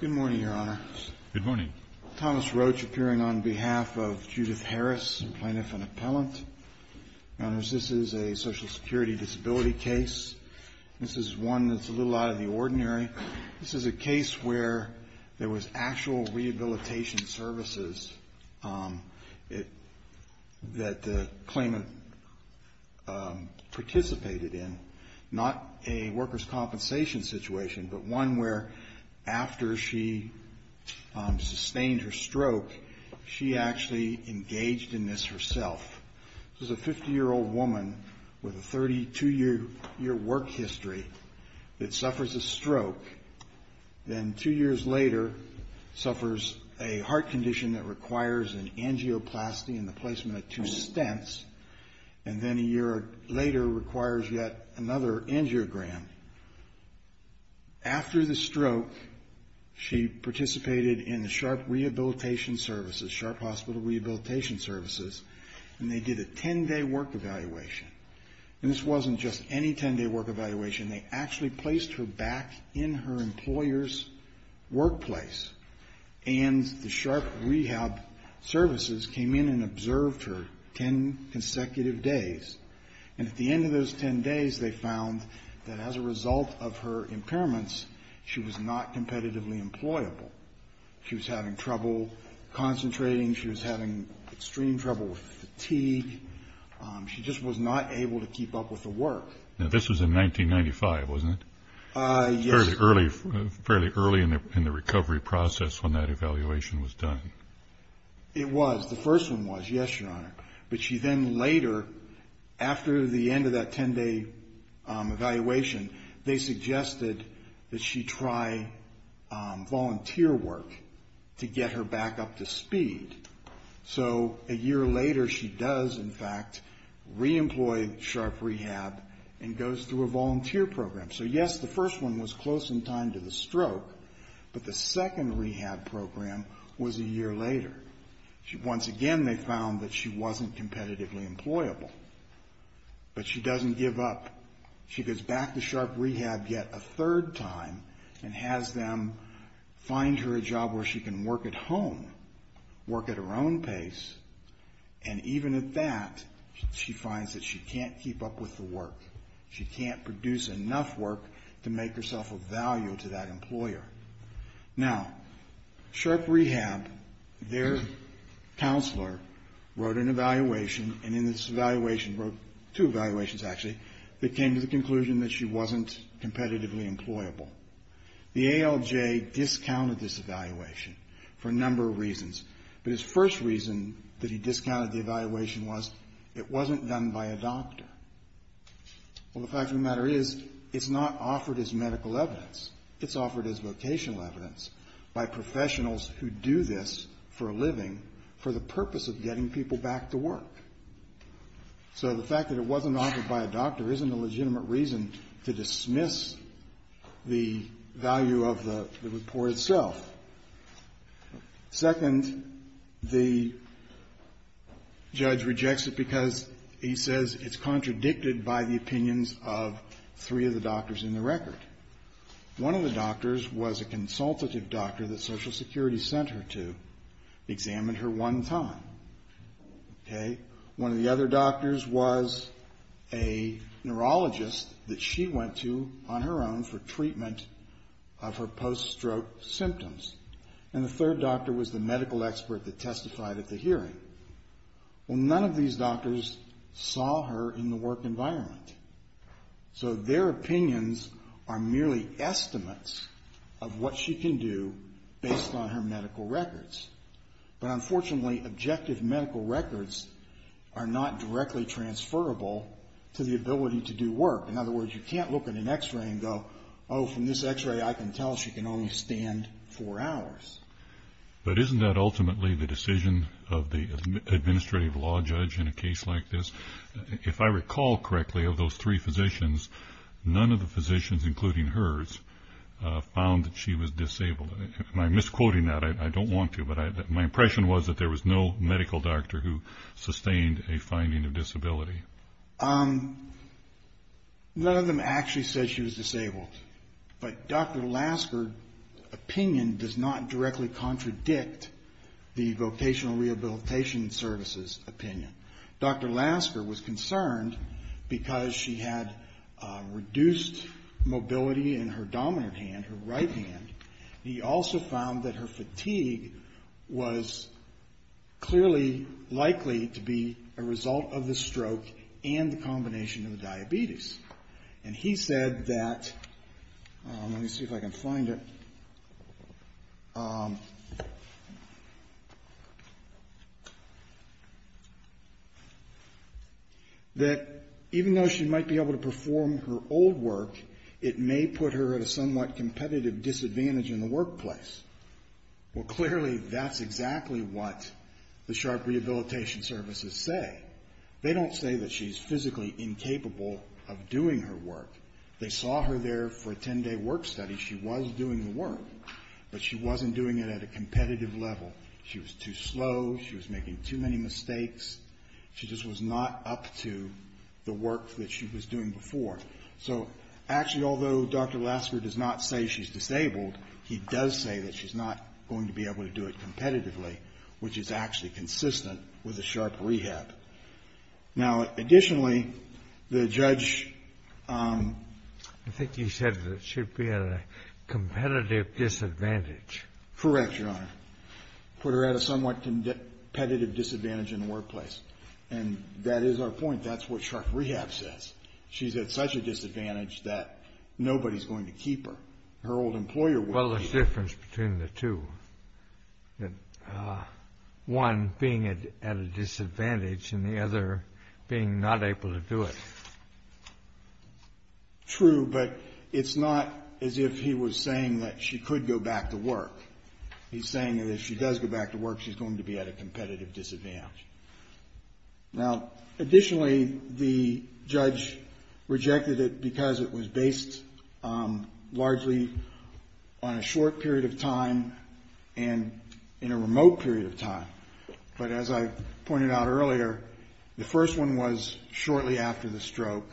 Good morning, Your Honor. Good morning. Thomas Roach appearing on behalf of Judith Harris, Plaintiff and Appellant. Your Honors, this is a Social Security disability case. This is one that's a little out of the ordinary. This is a case where there was actual rehabilitation services that the claimant participated in, not a workers' compensation situation, but one where, after she sustained her stroke, she actually engaged in this herself. This is a 50-year-old woman with a 32-year work history that suffers a stroke, then two years later suffers a heart condition that requires an angioplasty and the placement of two stents, and then a year later requires yet another angiogram. After the stroke, she participated in the Sharp Rehabilitation Services, Sharp Hospital Rehabilitation Services, and they did a 10-day work evaluation. And this wasn't just any 10-day work evaluation. They actually placed her back in her employer's workplace, and the Sharp Rehab Services came in and observed her 10 consecutive days. And at the end of those 10 days, they found that, as a result of her impairments, she was not competitively employable. She was having trouble concentrating. She was having extreme trouble with fatigue. She just was not able to keep up with the work. Now, this was in 1995, wasn't it? Yes, sir. Fairly early in the recovery process when that evaluation was done. It was. The first one was, yes, your honor. But she then later, after the end of that 10-day evaluation, they suggested that she try volunteer work to get her back up to speed. So, a year later, she does, in fact, reemploy Sharp Rehab and goes through a volunteer program. So, yes, the first one was close in time to the stroke, but the second rehab program was a year later. Once again, they found that she wasn't competitively employable. But she doesn't give up. She goes back to Sharp Rehab yet a third time and has them find her a job where she can work at home, work at her own pace, and even at that, she finds that she can't keep up with the work. She can't produce enough work to make herself of value to that employer. Now, Sharp Rehab, their counselor, wrote an evaluation, and in this evaluation, wrote two evaluations, actually, that came to the conclusion that she wasn't competitively employable. The ALJ discounted this evaluation for a number of reasons, but his first reason that he discounted the evaluation was it wasn't done by a doctor. Well, the fact of the matter is it's not offered as medical evidence. It's offered as vocational evidence by professionals who do this for a living for the purpose of getting people back to work. So the fact that it wasn't offered by a doctor isn't a legitimate reason to dismiss the value of the report itself. Second, the judge rejects it because he says it's contradicted by the opinions of three of the doctors in the record. One of the doctors was a consultative doctor that Social Security sent her to examine her one time, okay? One of the other doctors was a neurologist that she went to on her own for treatment of her post-stroke symptoms. And the third doctor was the medical expert that testified at the hearing. Well, none of these doctors saw her in the work environment. So their opinions are merely estimates of what she can do based on her medical records. But unfortunately, objective medical records are not directly transferable to the ability to do work. In other words, you can't look at an x-ray and go, oh, from this x-ray, I can tell she can only stand four hours. But isn't that ultimately the decision of the administrative law judge in a case like this? If I recall correctly, of those three physicians, none of the physicians, including hers, found that she was disabled. Am I misquoting that? I don't want to. But my impression was that there was no medical doctor who sustained a finding of disability. None of them actually said she was disabled. But Dr. Lasker's opinion does not directly contradict the Vocational Rehabilitation Service's opinion. Dr. Lasker was concerned because she had reduced mobility in her dominant hand, her right hand. He also found that her fatigue was clearly likely to be a result of the stroke and the combination of the diabetes. And he said that, let me see if I can find it, that even though she might be able to perform her old work, it may put her at a somewhat competitive disadvantage in the workplace. Well, clearly, that's exactly what the Sharp Rehabilitation Services say. They don't say that she's physically incapable of doing her work. They saw her there for a 10-day work study. She was doing the work, but she wasn't doing it at a competitive level. She was too slow. She was making too many mistakes. She just was not up to the work that she was doing before. So actually, although Dr. Lasker does not say she's disabled, he does say that she's not going to be able to do it competitively, which is actually consistent with the Sharp Rehab. Now, additionally, the judge — I think you said that it should be at a competitive disadvantage. Correct, Your Honor. Put her at a somewhat competitive disadvantage in the workplace. And that is our point. That's what Sharp Rehab says. She's at such a disadvantage that nobody's going to keep her. Her old employer will keep her. Well, there's a difference between the two. One, being at a disadvantage, and the other, being not able to do it. True, but it's not as if he was saying that she could go back to work. He's saying that if she does go back to work, she's going to be at a competitive disadvantage. Now, additionally, the judge rejected it because it was based largely on a short period of time and in a remote period of time. But as I pointed out earlier, the first one was shortly after the stroke,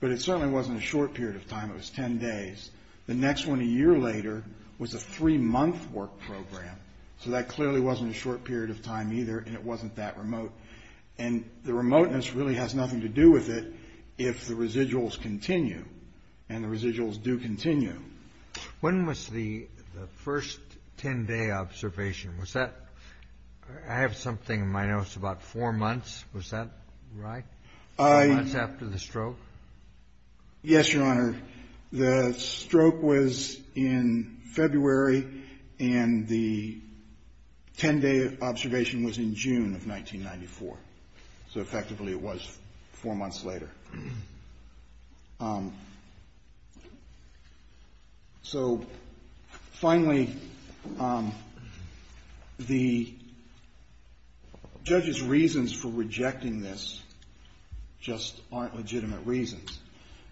but it certainly wasn't a short period of time. It was 10 days. The next one, a year later, was a three-month work program. So that clearly wasn't a short period of time either, and it wasn't that remote. And the remoteness really has nothing to do with it if the residuals continue, and the residuals do continue. When was the first 10-day observation? Was that – I have something in my notes about four months. Was that right, four months after the stroke? Yes, Your Honor. The stroke was in February, and the 10-day observation was in June of 1994, so effectively it was four months later. So finally, the judge's reasons for rejecting this just aren't legitimate reasons.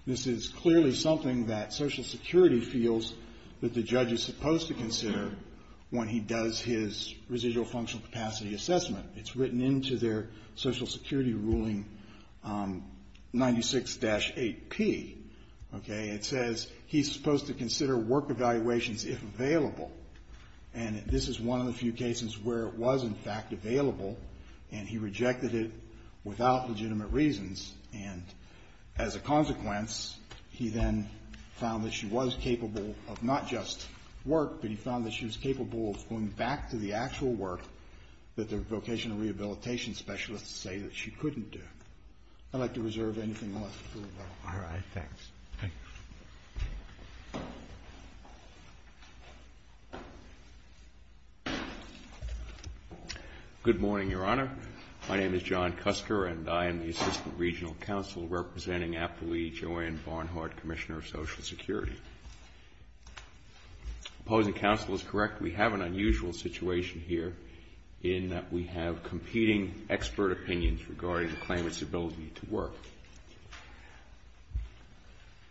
This is clearly something that Social Security feels that the judge is supposed to consider when he does his residual functional capacity assessment. It's written into their Social Security ruling 96-8P, okay? It says he's supposed to consider work evaluations if available. And this is one of the few cases where it was, in fact, available, and he rejected it without legitimate reasons. And as a consequence, he then found that she was capable of not just work, but he found that she was capable of going back to the actual work that the vocational rehabilitation specialists say that she couldn't do. I'd like to reserve anything left to do about it. All right, thanks. Good morning, Your Honor. My name is John Cusker, and I am the Assistant Regional Counsel representing Appellee Joanne Barnhart, Commissioner of Social Security. Opposing counsel is correct. We have an unusual situation here in that we have competing expert opinions regarding the claimant's ability to work.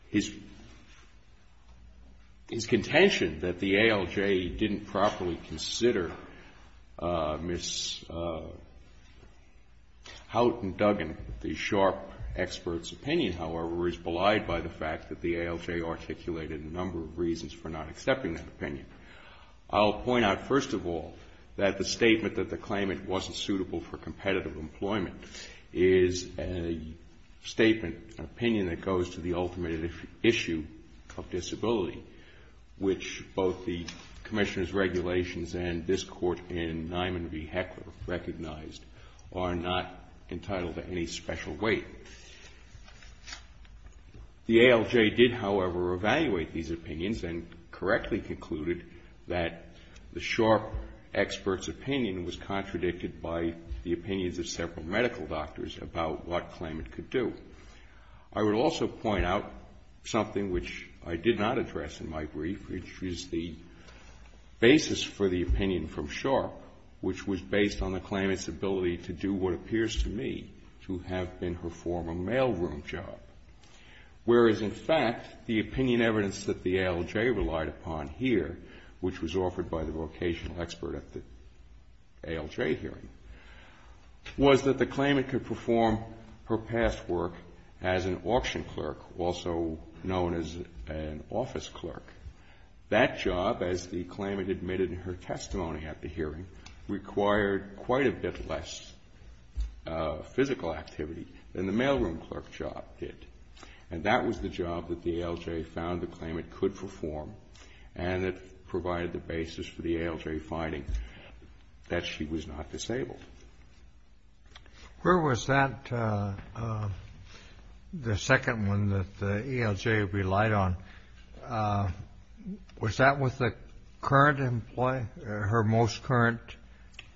His contention that the ALJ didn't properly consider Ms. Houghton Duggan, the sharp expert's opinion, however, is belied by the fact that the ALJ articulated a number of reasons for not accepting that opinion. I'll point out, first of all, that the statement that the claimant wasn't suitable for competitive employment is a, a statement, an opinion that goes to the ultimate issue of disability, which both the Commissioner's regulations and this Court in Niman v. Hecker recognized are not entitled to any special weight. The ALJ did, however, evaluate these opinions and correctly concluded that the sharp expert's opinion was contradicted by the opinions of several medical doctors about what claimant could do. I would also point out something which I did not address in my brief, which is the basis for the opinion from Sharp, which was based on the claimant's ability to do what appears to me to have been her former mailroom job. Whereas, in fact, the opinion evidence that the ALJ relied upon here, which was offered by the vocational expert at the ALJ hearing, was that the claimant could perform her past work as an auction clerk, also known as an office clerk. That job, as the claimant admitted in her testimony at the hearing, required quite a bit less physical activity than the mailroom clerk job did. And that was the job that the ALJ found the claimant could perform, and it provided the basis for the ALJ finding that she was not disabled. Where was that, the second one that the ALJ relied on, was that with the current employee, her most current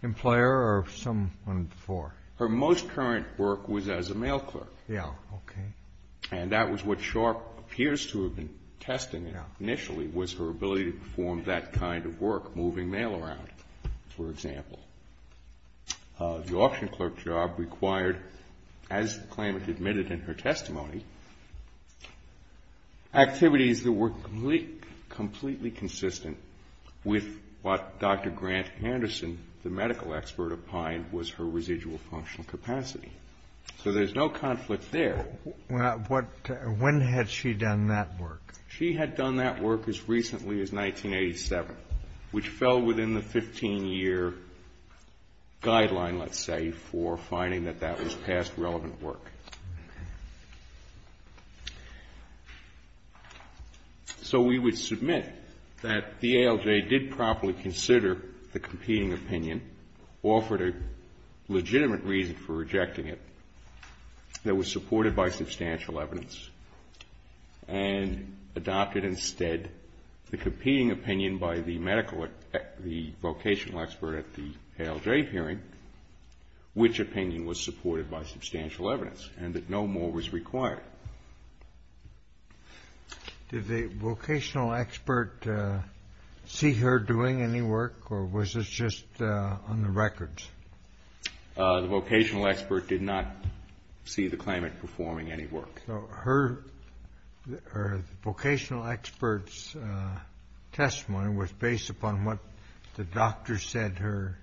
employer, or someone before? Her most current work was as a mail clerk. And that was what Sharp appears to have been testing initially, was her ability to perform that kind of work, moving mail around, for example. The auction clerk job required, as the claimant admitted in her testimony, activities that were completely consistent with what Dr. Grant Anderson, the medical expert, opined was her residual functional capacity. So there's no conflict there. When had she done that work? She had done that work as recently as 1987, which fell within the 15-year guideline, let's say, for finding that that was past relevant work. So we would submit that the ALJ did properly consider the competing opinion, offered a legitimate reason for rejecting it that was supported by substantial evidence, and adopted instead the competing opinion by the medical, the vocational expert at the ALJ hearing, which opinion was supported by substantial evidence, and that no more was required. Did the vocational expert see her doing any work, or was this just on the records? The vocational expert did not see the claimant performing any work. So her, the vocational expert's testimony was based upon what the doctor said her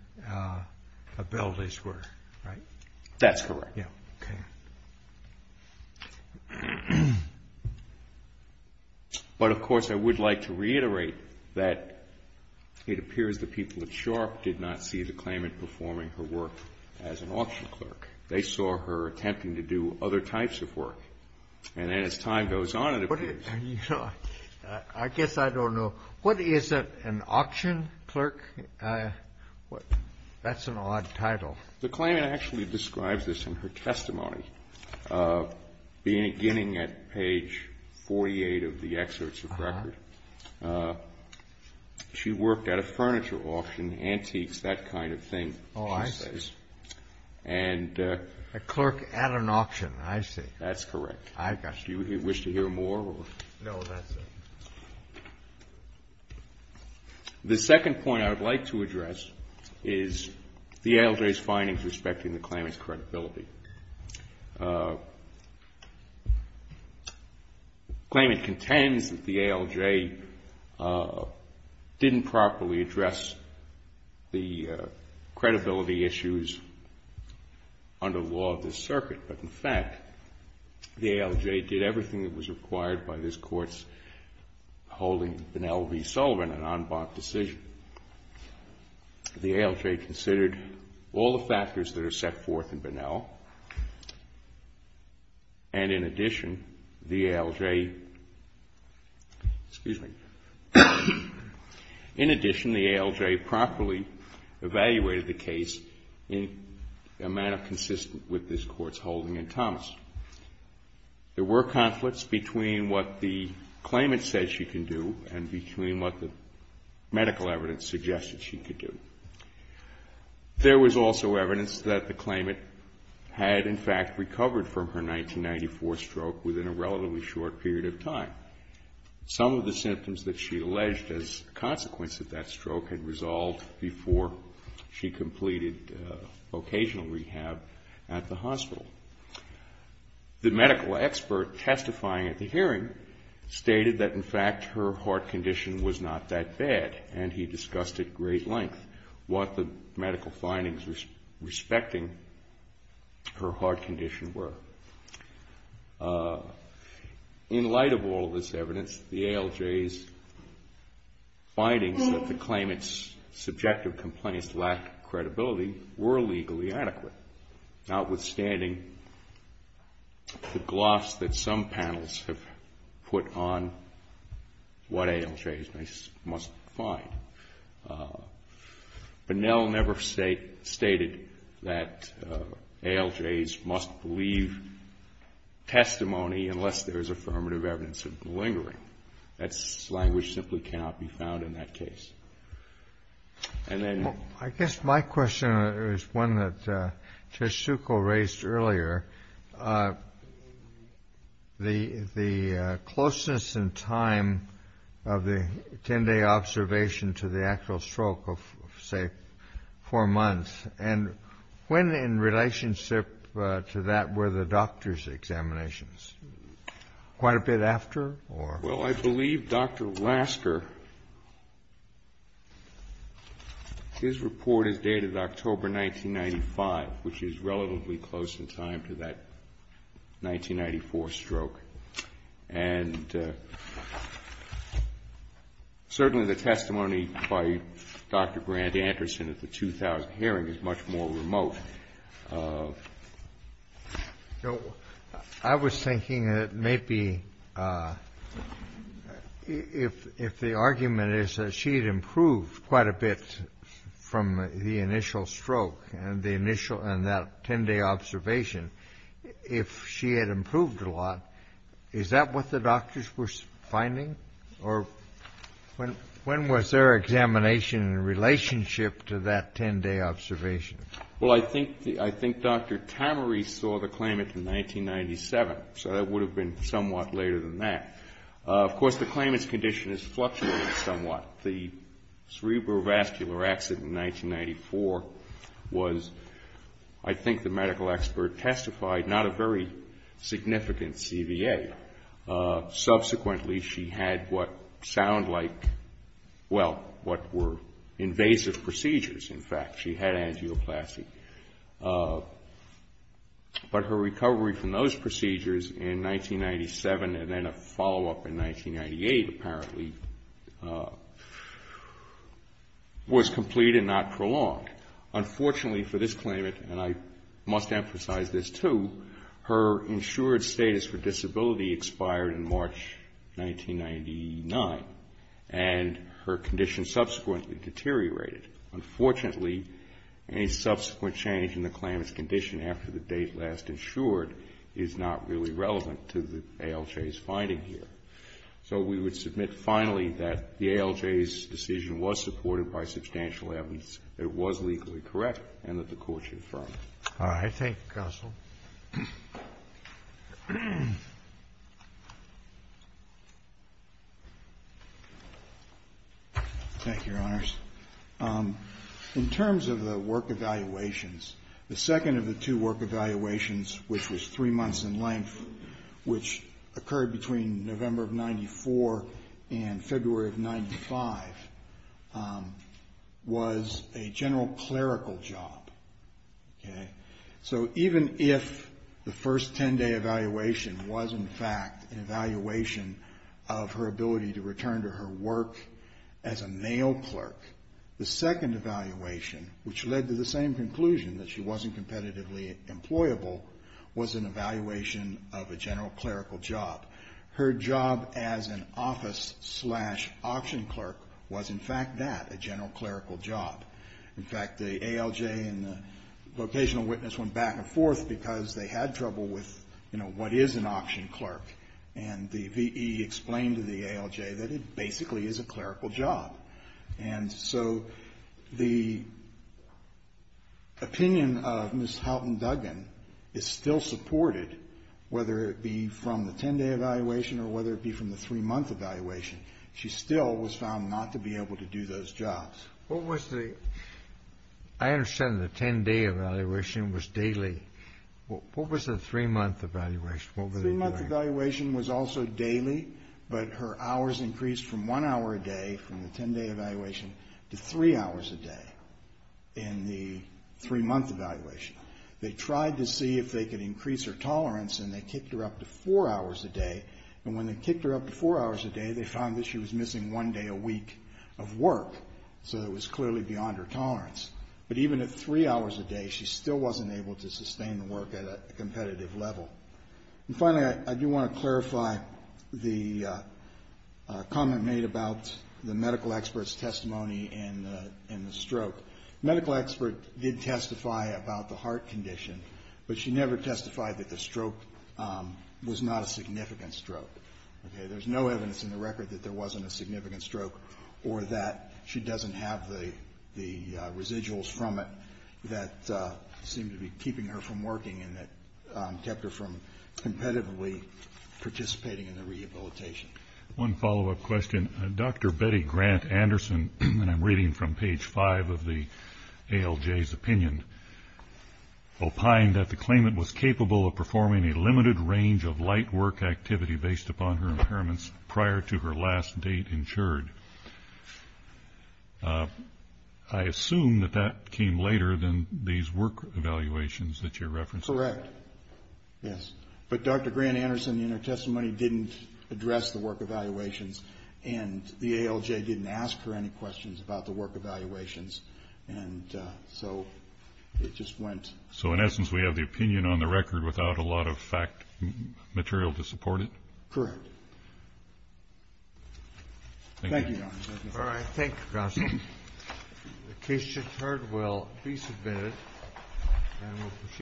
abilities were, right? That's correct. But, of course, I would like to reiterate that it appears the people at Sharp did not see the claimant performing any work. They saw her attempting to do other types of work. And as time goes on, it appears. I guess I don't know. What is an auction clerk? That's an odd title. The claimant actually describes this in her testimony, beginning at page 48 of the excerpts of record. She worked at a furniture auction, antiques, that kind of thing, she says. Oh, I see. A clerk at an auction, I see. That's correct. Do you wish to hear more? No, that's it. The second point I would like to address is the ALJ's findings respecting the claimant's credibility. The claimant contends that the ALJ didn't properly address the credibility issues under the law of this circuit. But, in fact, the ALJ did everything that was required by this Court's holding, Bunnell v. Sullivan, an en banc decision. The ALJ considered all the factors that are set forth in Bunnell and, in addition, the ALJ, excuse me, in addition, the ALJ properly evaluated the case in a manner consistent with this Court's holding in Thomas. There were conflicts between what the claimant said she can do and between what the medical evidence suggested she could do. There was also evidence that the claimant had, in fact, recovered from her 1994 stroke within a relatively short period of time. Some of the symptoms that she alleged as a consequence of that stroke had resolved before she completed vocational rehab at the hospital. The medical expert testifying at the hearing stated that, in fact, her heart condition was not that bad, and he discussed at great length what the medical findings respecting her heart condition were. In light of all this evidence, the ALJ's findings that the claimant's subjective complaints lacked credibility were legally adequate, notwithstanding the gloss that some panels have put on what ALJs must find. Bunnell never stated that ALJs must believe testimony unless there is affirmative evidence of glingering. That language simply cannot be found in that case. And then... I guess my question is one that Chisuko raised earlier. The closeness in time of the 10-day observation to the actual stroke of, say, four months. And when in relationship to that were the doctor's examinations? Quite a bit after, or? Well, I believe Dr. Lasker, his report is dated October 1995, which is relatively close in time to that 1994 stroke. And certainly the testimony by Dr. Grant Anderson at the 2000 hearing is much more remote. I was thinking that maybe if the argument is that she had improved quite a bit from the initial stroke and that 10-day observation, if she had improved a lot, is that what the doctors were finding? Or when was their examination in relationship to that 10-day observation? Well, I think Dr. Tamari saw the claimant in 1997, so that would have been somewhat later than that. Of course, the claimant's condition is fluctuating somewhat. The cerebrovascular accident in 1994 was, I think the medical expert testified, not a very significant CVA. Subsequently, she had what sounded like, well, what were invasive procedures, in fact. She had angioplasty. But her recovery from those procedures in was complete and not prolonged. Unfortunately for this claimant, and I must emphasize this too, her insured status for disability expired in March 1999, and her condition subsequently deteriorated. Unfortunately, any subsequent change in the claimant's condition after the date last insured is not really The ALJ's decision was supported by substantial evidence that it was legally correct and that the Court should affirm it. All right. Thank you, counsel. Thank you, Your Honors. In terms of the work evaluations, the second of the two work evaluations, which was three months in length, which occurred between November of 94 and February of 95, was a general clerical job. So even if the first 10-day evaluation was, in fact, an evaluation of her ability to return to her work as a male clerk, the second evaluation, which led to the same conclusion that she wasn't competitively employable, was an evaluation of a general clerical job. Her job as an office-slash-auction clerk was, in fact, that, a general clerical job. In fact, the ALJ and the vocational witness went back and forth because they had trouble with, you know, what is an auction clerk, and the V.E. explained to the ALJ that it basically is a clerical job. And so the opinion of Ms. Houghton Duggan is still supported, whether it be from the 10-day evaluation or whether it be from the three-month evaluation. She still was found not to be able to do those jobs. What was the — I understand the 10-day evaluation was daily. What was the three-month evaluation? What were they doing? The three-month evaluation was also daily, but her hours increased from one hour a day from the 10-day evaluation to three hours a day in the three-month evaluation. They tried to see if they could increase her tolerance, and they kicked her up to four hours a day. And when they kicked her up to four hours a day, they found that she was missing one day a week of work. So it was clearly beyond her tolerance. But even at three hours a day, she still wasn't able to sustain the work at a competitive level. And finally, I do want to clarify the comment made about the medical expert's testimony in the stroke. The medical expert did testify about the heart condition, but she never testified that the stroke was not a significant stroke. Okay? There's no evidence in the record that there wasn't a significant stroke or that she doesn't have the residuals from it that seemed to be keeping her from working and that kept her from competitively participating in the rehabilitation. One follow-up question. Dr. Betty Grant Anderson, and I'm reading from page five of the ALJ's opinion, opined that the claimant was capable of performing a limited range of light work activity based upon her impairments prior to her last date insured. I assume that that came later than these work evaluations that you're referencing. Correct. Yes. But Dr. Grant Anderson in her testimony didn't address the work evaluations, and the ALJ didn't ask her any questions about the work evaluations. And so it just went. So in essence, we have the opinion on the record without a lot of fact material to support it? Correct. Thank you, Your Honor. All right. Thank you, Counsel. The case is adjourned.